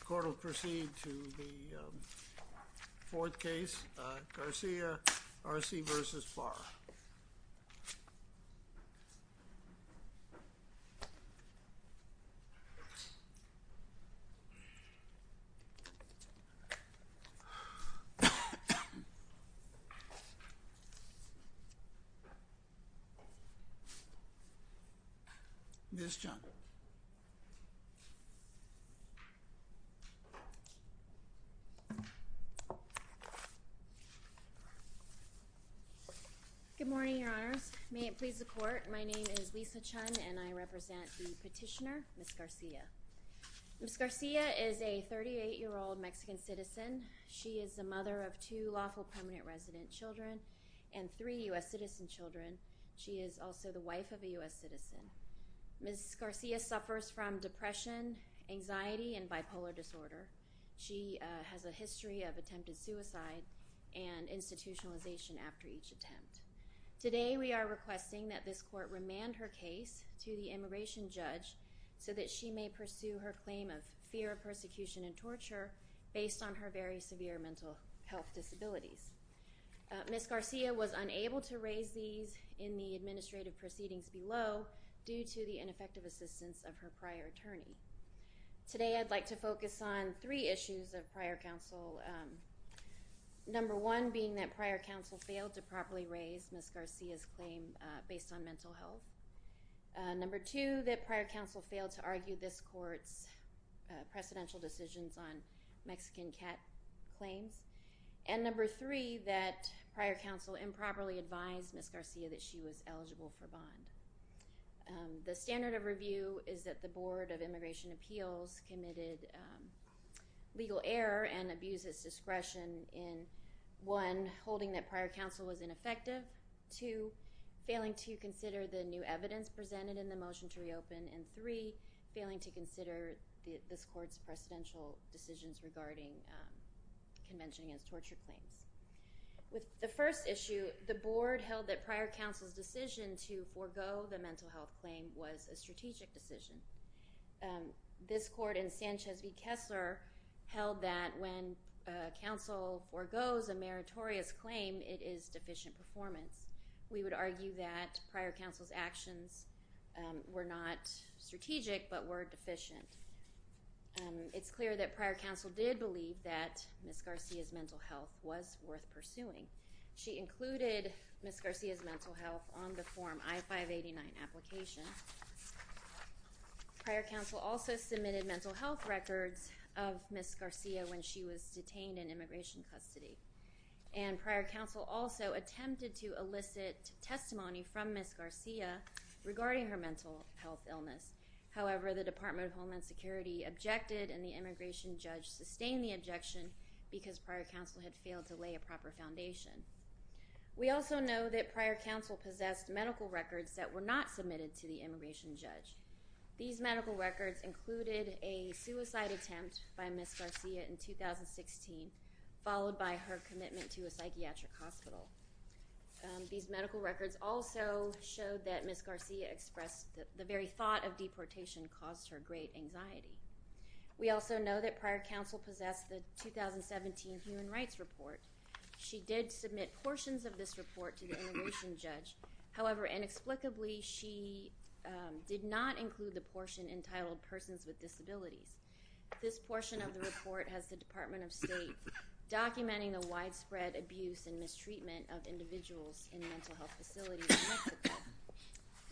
The court will proceed to the fourth case, Garcia-Arce v. Barr. Ms. Chun. Good morning, Your Honors. May it please the court, my name is Lisa Chun and I represent the petitioner, Ms. Garcia. Ms. Garcia is a 38-year-old Mexican citizen. She is the mother of two lawful permanent resident children and three U.S. citizen children. She is also the wife of a U.S. citizen. Ms. Garcia suffers from depression, anxiety, and bipolar disorder. She has a history of attempted suicide and institutionalization after each attempt. Today we are requesting that this court remand her case to the immigration judge so that she may pursue her claim of fear, persecution, and torture based on her very severe mental health disabilities. Ms. Garcia was unable to raise these in the administrative proceedings below due to the ineffective assistance of her prior attorney. Today I'd like to focus on three issues of prior counsel, number one being that prior counsel failed to properly raise Ms. Garcia's claim based on mental health, number two that prior counsel failed to argue this court's precedential decisions on Mexican cat claims, and number three that prior counsel improperly advised Ms. Garcia that she was eligible for bond. The standard of review is that the Board of Immigration Appeals committed legal error and abuses discretion in one, holding that prior counsel was ineffective, two, failing to consider the new evidence presented in the motion to reopen, and three, failing to mention against torture claims. With the first issue, the board held that prior counsel's decision to forego the mental health claim was a strategic decision. This court and Sanchez v. Kessler held that when counsel foregoes a meritorious claim it is deficient performance. We would argue that prior counsel's actions were not strategic but were deficient. It's clear that prior counsel did believe that Ms. Garcia's mental health was worth pursuing. She included Ms. Garcia's mental health on the Form I-589 application. Prior counsel also submitted mental health records of Ms. Garcia when she was detained in immigration custody. And prior counsel also attempted to elicit testimony from Ms. Garcia regarding her mental health illness. However, the Department of Homeland Security objected and the immigration judge sustained the objection because prior counsel had failed to lay a proper foundation. We also know that prior counsel possessed medical records that were not submitted to the immigration judge. These medical records included a suicide attempt by Ms. Garcia in 2016, followed by her commitment to a psychiatric hospital. These medical records also showed that Ms. Garcia expressed that the very thought of deportation caused her great anxiety. We also know that prior counsel possessed the 2017 Human Rights Report. She did submit portions of this report to the immigration judge, however, inexplicably she did not include the portion entitled Persons with Disabilities. This portion of the report has the Department of State documenting the widespread abuse and mistreatment of individuals in mental health facilities in Mexico.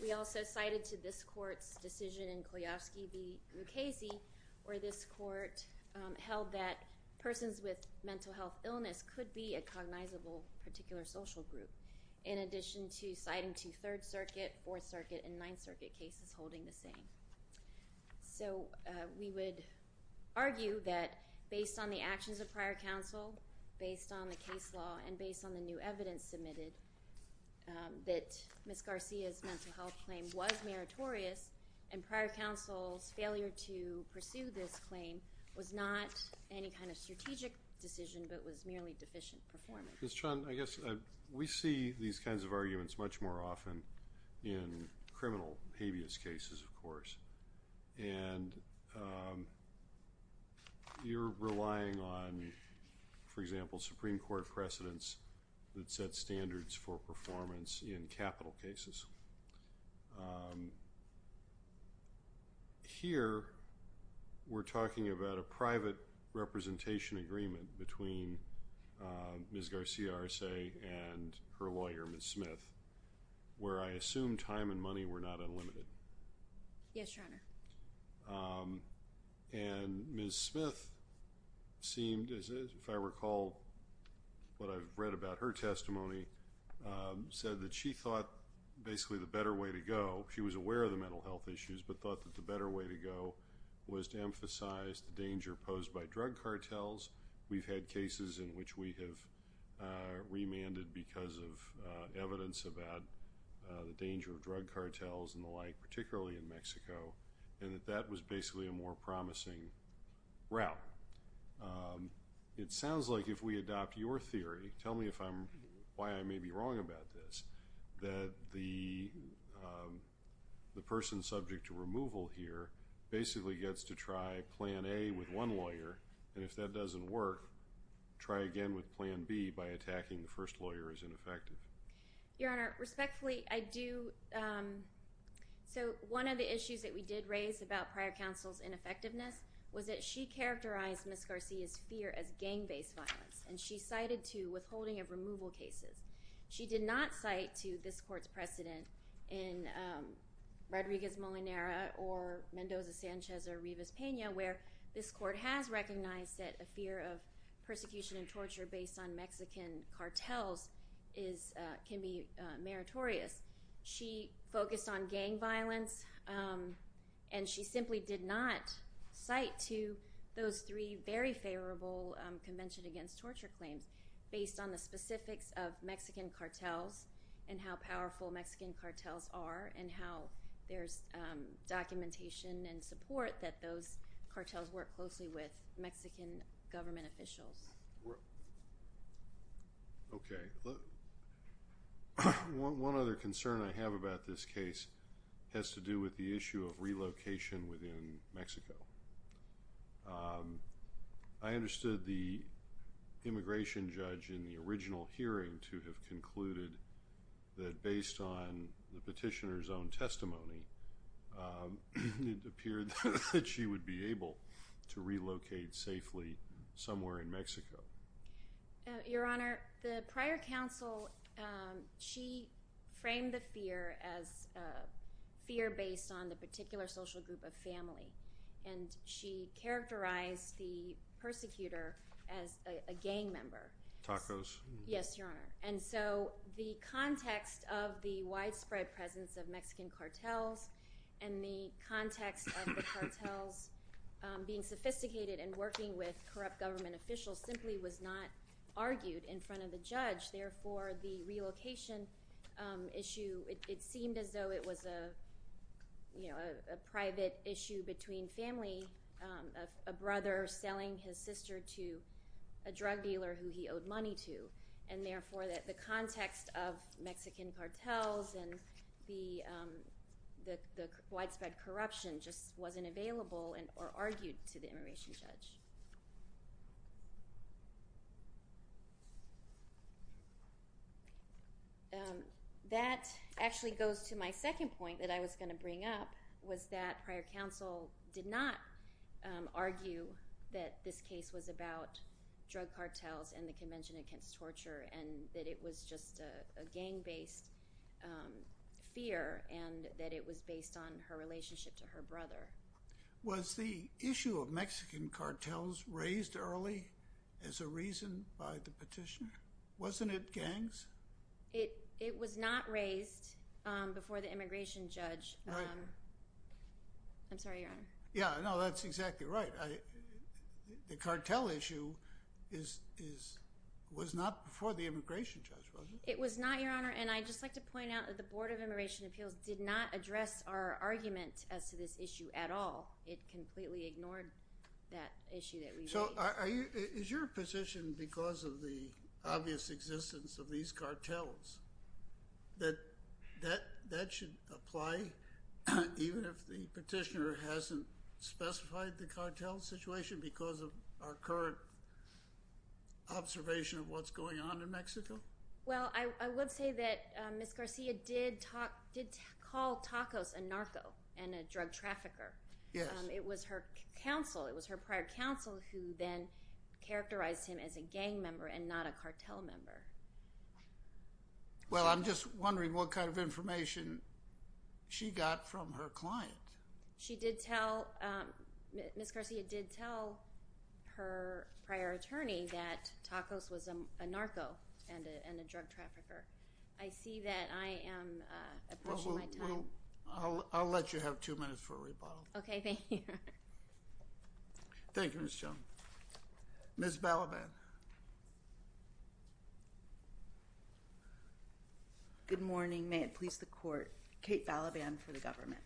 We also cited to this court's decision in Koyovsky v. Mukasey, where this court held that persons with mental health illness could be a cognizable particular social group, in addition to citing two Third Circuit, Fourth Circuit, and Ninth Circuit cases holding the same. So we would argue that based on the actions of prior counsel, based on the case law, and based on the new evidence submitted, that Ms. Garcia's mental health claim was meritorious, and prior counsel's failure to pursue this claim was not any kind of strategic decision, but was merely deficient performance. Ms. Chun, I guess we see these kinds of arguments much more often in criminal habeas cases, of course, and you're relying on, for example, Supreme Court precedents that set standards for performance in capital cases. Here, we're talking about a private representation agreement between Ms. Garcia Arce and her client, and Ms. Smith, if I recall what I've read about her testimony, said that she thought basically the better way to go, she was aware of the mental health issues, but thought that the better way to go was to emphasize the danger posed by drug cartels. We've had cases in which we have remanded because of evidence about the danger of drug cartels in Mexico, and that that was basically a more promising route. It sounds like if we adopt your theory, tell me why I may be wrong about this, that the person subject to removal here basically gets to try Plan A with one lawyer, and if that doesn't work, try again with Plan B by attacking the first lawyer as ineffective. Your Honor, respectfully, I do, so one of the issues that we did raise about prior counsel's ineffectiveness was that she characterized Ms. Garcia's fear as gang-based violence, and she cited to withholding of removal cases. She did not cite to this Court's precedent in Rodriguez-Molinera or Mendoza-Sanchez or Rivas-Pena, where this Court has recognized that a fear of persecution and torture based on Mexican cartels can be meritorious. She focused on gang violence, and she simply did not cite to those three very favorable Convention Against Torture claims based on the specifics of Mexican cartels and how powerful Mexican cartels are and how there's documentation and support that those cartels work closely with Mexican government officials. Okay. One other concern I have about this case has to do with the issue of relocation within Mexico. I understood the immigration judge in the original hearing to have concluded that based on the petitioner's own testimony, it appeared that she would be able to relocate to Mexico safely somewhere in Mexico. Your Honor, the prior counsel, she framed the fear as a fear based on the particular social group of family, and she characterized the persecutor as a gang member. Tacos. Yes, Your Honor. And so the context of the widespread presence of Mexican cartels and the context of the Mexican cartels being relocated and working with corrupt government officials simply was not argued in front of the judge, therefore the relocation issue, it seemed as though it was a private issue between family, a brother selling his sister to a drug dealer who he owed money to, and therefore the context of Mexican cartels and the widespread corruption just wasn't available or argued to the immigration judge. That actually goes to my second point that I was going to bring up was that prior counsel did not argue that this case was about drug cartels and the Convention Against Torture and that it was just a gang based fear and that it was based on her relationship to her brother. Was the issue of Mexican cartels raised early as a reason by the petitioner? Wasn't it gangs? It was not raised before the immigration judge. Right. I'm sorry, Your Honor. Yeah, no, that's exactly right. The cartel issue was not before the immigration judge, was it? It was not, Your Honor, and I'd just like to point out that the Board of Immigration didn't raise that issue at all. It completely ignored that issue that we raised. Is your position, because of the obvious existence of these cartels, that that should apply even if the petitioner hasn't specified the cartel situation because of our current observation Well, I would say that Ms. Garcia did call Tacos a narco and a drug trafficker. It was her prior counsel who then characterized him as a gang member and not a cartel member. Well I'm just wondering what kind of information she got from her client. She did tell, Ms. Garcia did tell her prior attorney that Tacos was a narco and a drug trafficker. I see that I am approaching my time. I'll let you have two minutes for a rebuttal. Okay, thank you. Thank you, Ms. Jones. Ms. Balaban. Good morning. May it please the Court. Kate Balaban for the government.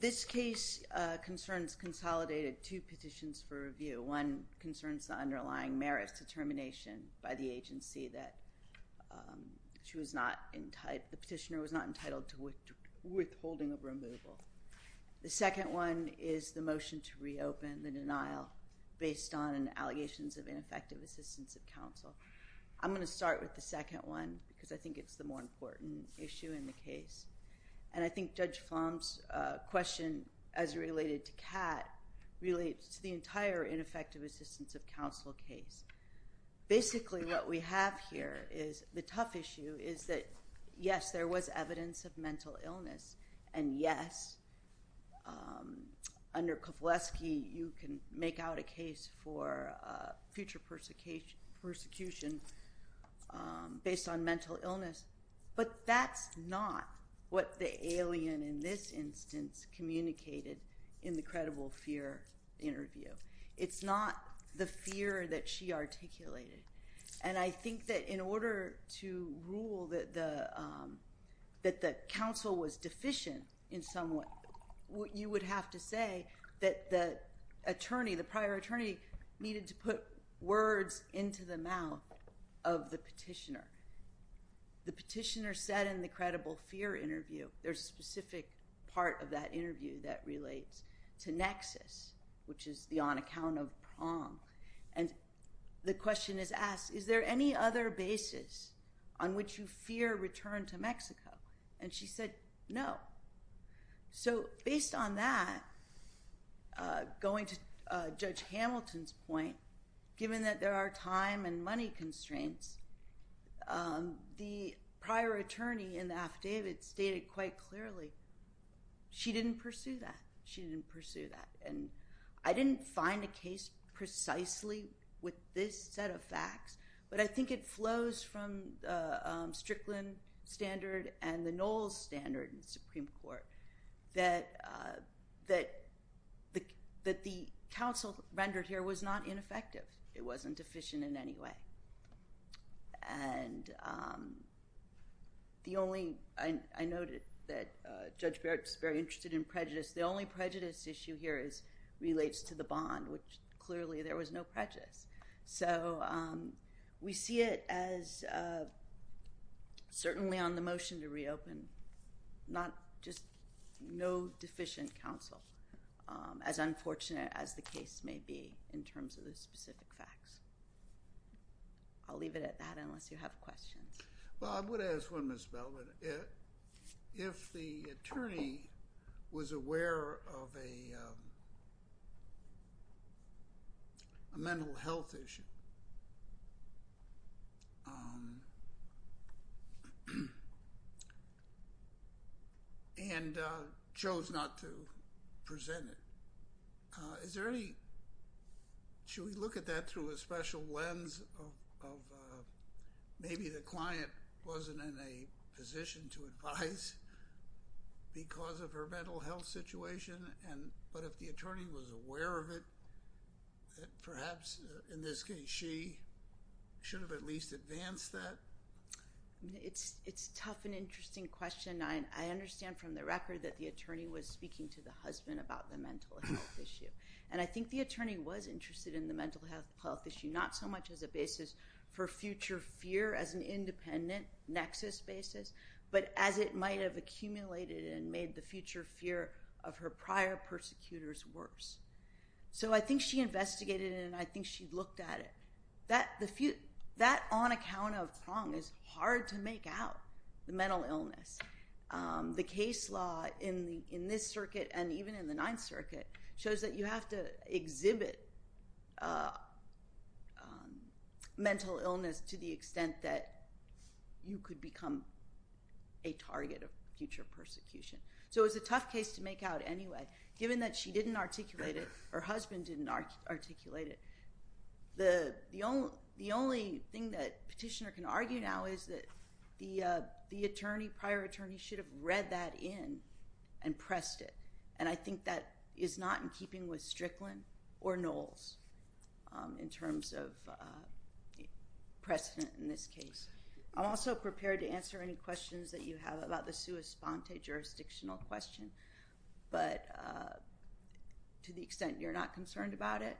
This case concerns consolidated two petitions for review. One concerns the underlying merits of termination by the agency that the petitioner was not entitled to withholding of removal. The second one is the motion to reopen the denial based on allegations of ineffective assistance of counsel. I'm going to start with the second one because I think it's the more important issue in the case. And I think Judge Flom's question, as related to Kat, relates to the entire ineffective assistance of counsel case. Basically what we have here is the tough issue is that yes, there was evidence of mental illness, and yes, under Kovaleski you can make out a case for future persecution based on mental illness. But that's not what the alien in this instance communicated in the credible fear interview. It's not the fear that she articulated. And I think that in order to rule that the counsel was deficient in some way, you would have to say that the attorney, the prior attorney, needed to put words into the mouth of the petitioner. The petitioner said in the credible fear interview, there's a specific part of that interview that relates to nexus, which is the on account of prom. And the question is asked, is there any other basis on which you fear return to Mexico? And she said no. So based on that, going to Judge Hamilton's point, given that there are time and money constraints, the prior attorney in the affidavit stated quite clearly she didn't pursue that. She didn't pursue that. And I didn't find a case precisely with this set of facts, but I think it flows from the Strickland standard and the Knowles standard in the Supreme Court that the counsel rendered here was not ineffective. It wasn't deficient in any way. And the only, I noted that Judge Barrett is very interested in prejudice. The only prejudice issue here is relates to the bond, which clearly there was no prejudice. So we see it as certainly on the motion to reopen, not just no deficient counsel, as well. I'll leave it at that unless you have questions. Well, I would ask one, Ms. Bellman. If the attorney was aware of a mental health issue and chose not to present it, is there any, should we look at that through a special lens of maybe the client wasn't in a position to advise because of her mental health situation? But if the attorney was aware of it, perhaps in this case she should have at least advanced that? It's a tough and interesting question. I understand from the record that the attorney was speaking to the husband about the mental health issue. And I think the attorney was interested in the mental health issue not so much as a basis for future fear as an independent nexus basis, but as it might have accumulated and made the future fear of her prior persecutors worse. So I think she investigated it and I think she looked at it. That on account of wrong is hard to make out, the mental illness. The case law in this circuit and even in the Ninth Circuit shows that you have to exhibit mental illness to the extent that you could become a target of future persecution. So it's a tough case to make out anyway. Given that she didn't articulate it, her husband didn't articulate it, the only thing that petitioner can argue now is that the attorney, prior attorney, should have read that in and pressed it. And I think that is not in keeping with Strickland or Knowles in terms of precedent in this case. I'm also prepared to answer any questions that you have about the sua sponte jurisdictional question, but to the extent you're not concerned about it,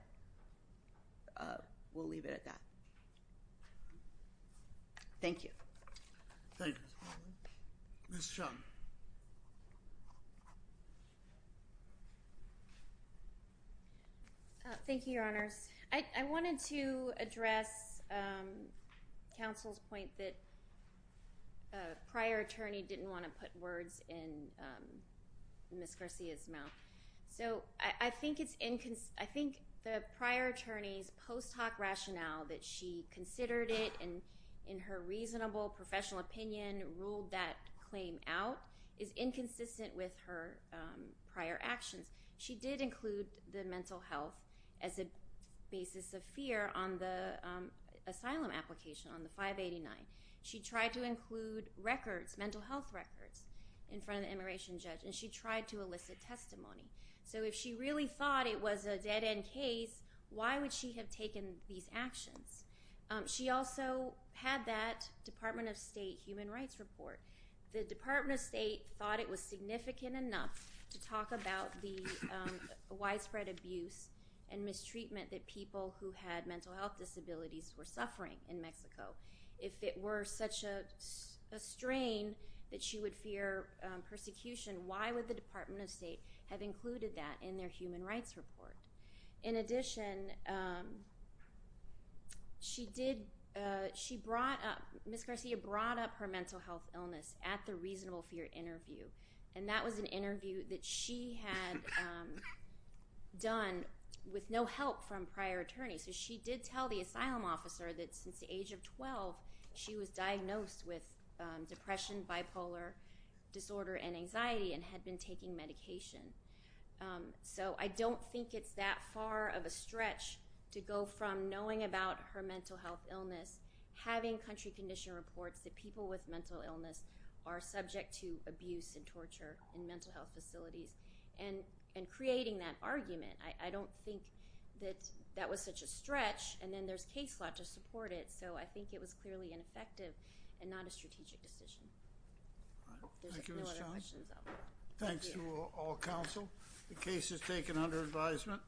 we'll leave it at that. Thank you. Thank you. Ms. Shum. Thank you, Your Honors. I wanted to address counsel's point that prior attorney didn't want to put words in Ms. Garcia's mouth. So I think the prior attorney's post hoc rationale that she considered it and in her reasonable professional opinion ruled that claim out is inconsistent with her prior actions. She did include the mental health as a basis of fear on the asylum application on the 589. She tried to include records, mental health records, in front of the immigration judge and she tried to elicit testimony. So if she really thought it was a dead end case, why would she have taken these actions? She also had that Department of State human rights report. The Department of State thought it was significant enough to talk about the widespread abuse and mistreatment that people who had mental health disabilities were suffering in Mexico. If it were such a strain that she would fear persecution, why would the Department of State have included that in their human rights report? In addition, Ms. Garcia brought up her mental health illness at the reasonable fear interview and that was an interview that she had done with no help from prior attorneys. So she did tell the asylum officer that since the age of 12 she was diagnosed with depression, bipolar disorder and anxiety and had been taking medication. So I don't think it's that far of a stretch to go from knowing about her mental health illness, having country condition reports that people with mental illness are subject to abuse and torture in mental health facilities and creating that argument. I don't think that that was such a stretch and then there's case law to support it. So I think it was clearly ineffective and not a strategic decision. Thank you Ms. Johnson. Thanks to all counsel. The case is taken under advisement.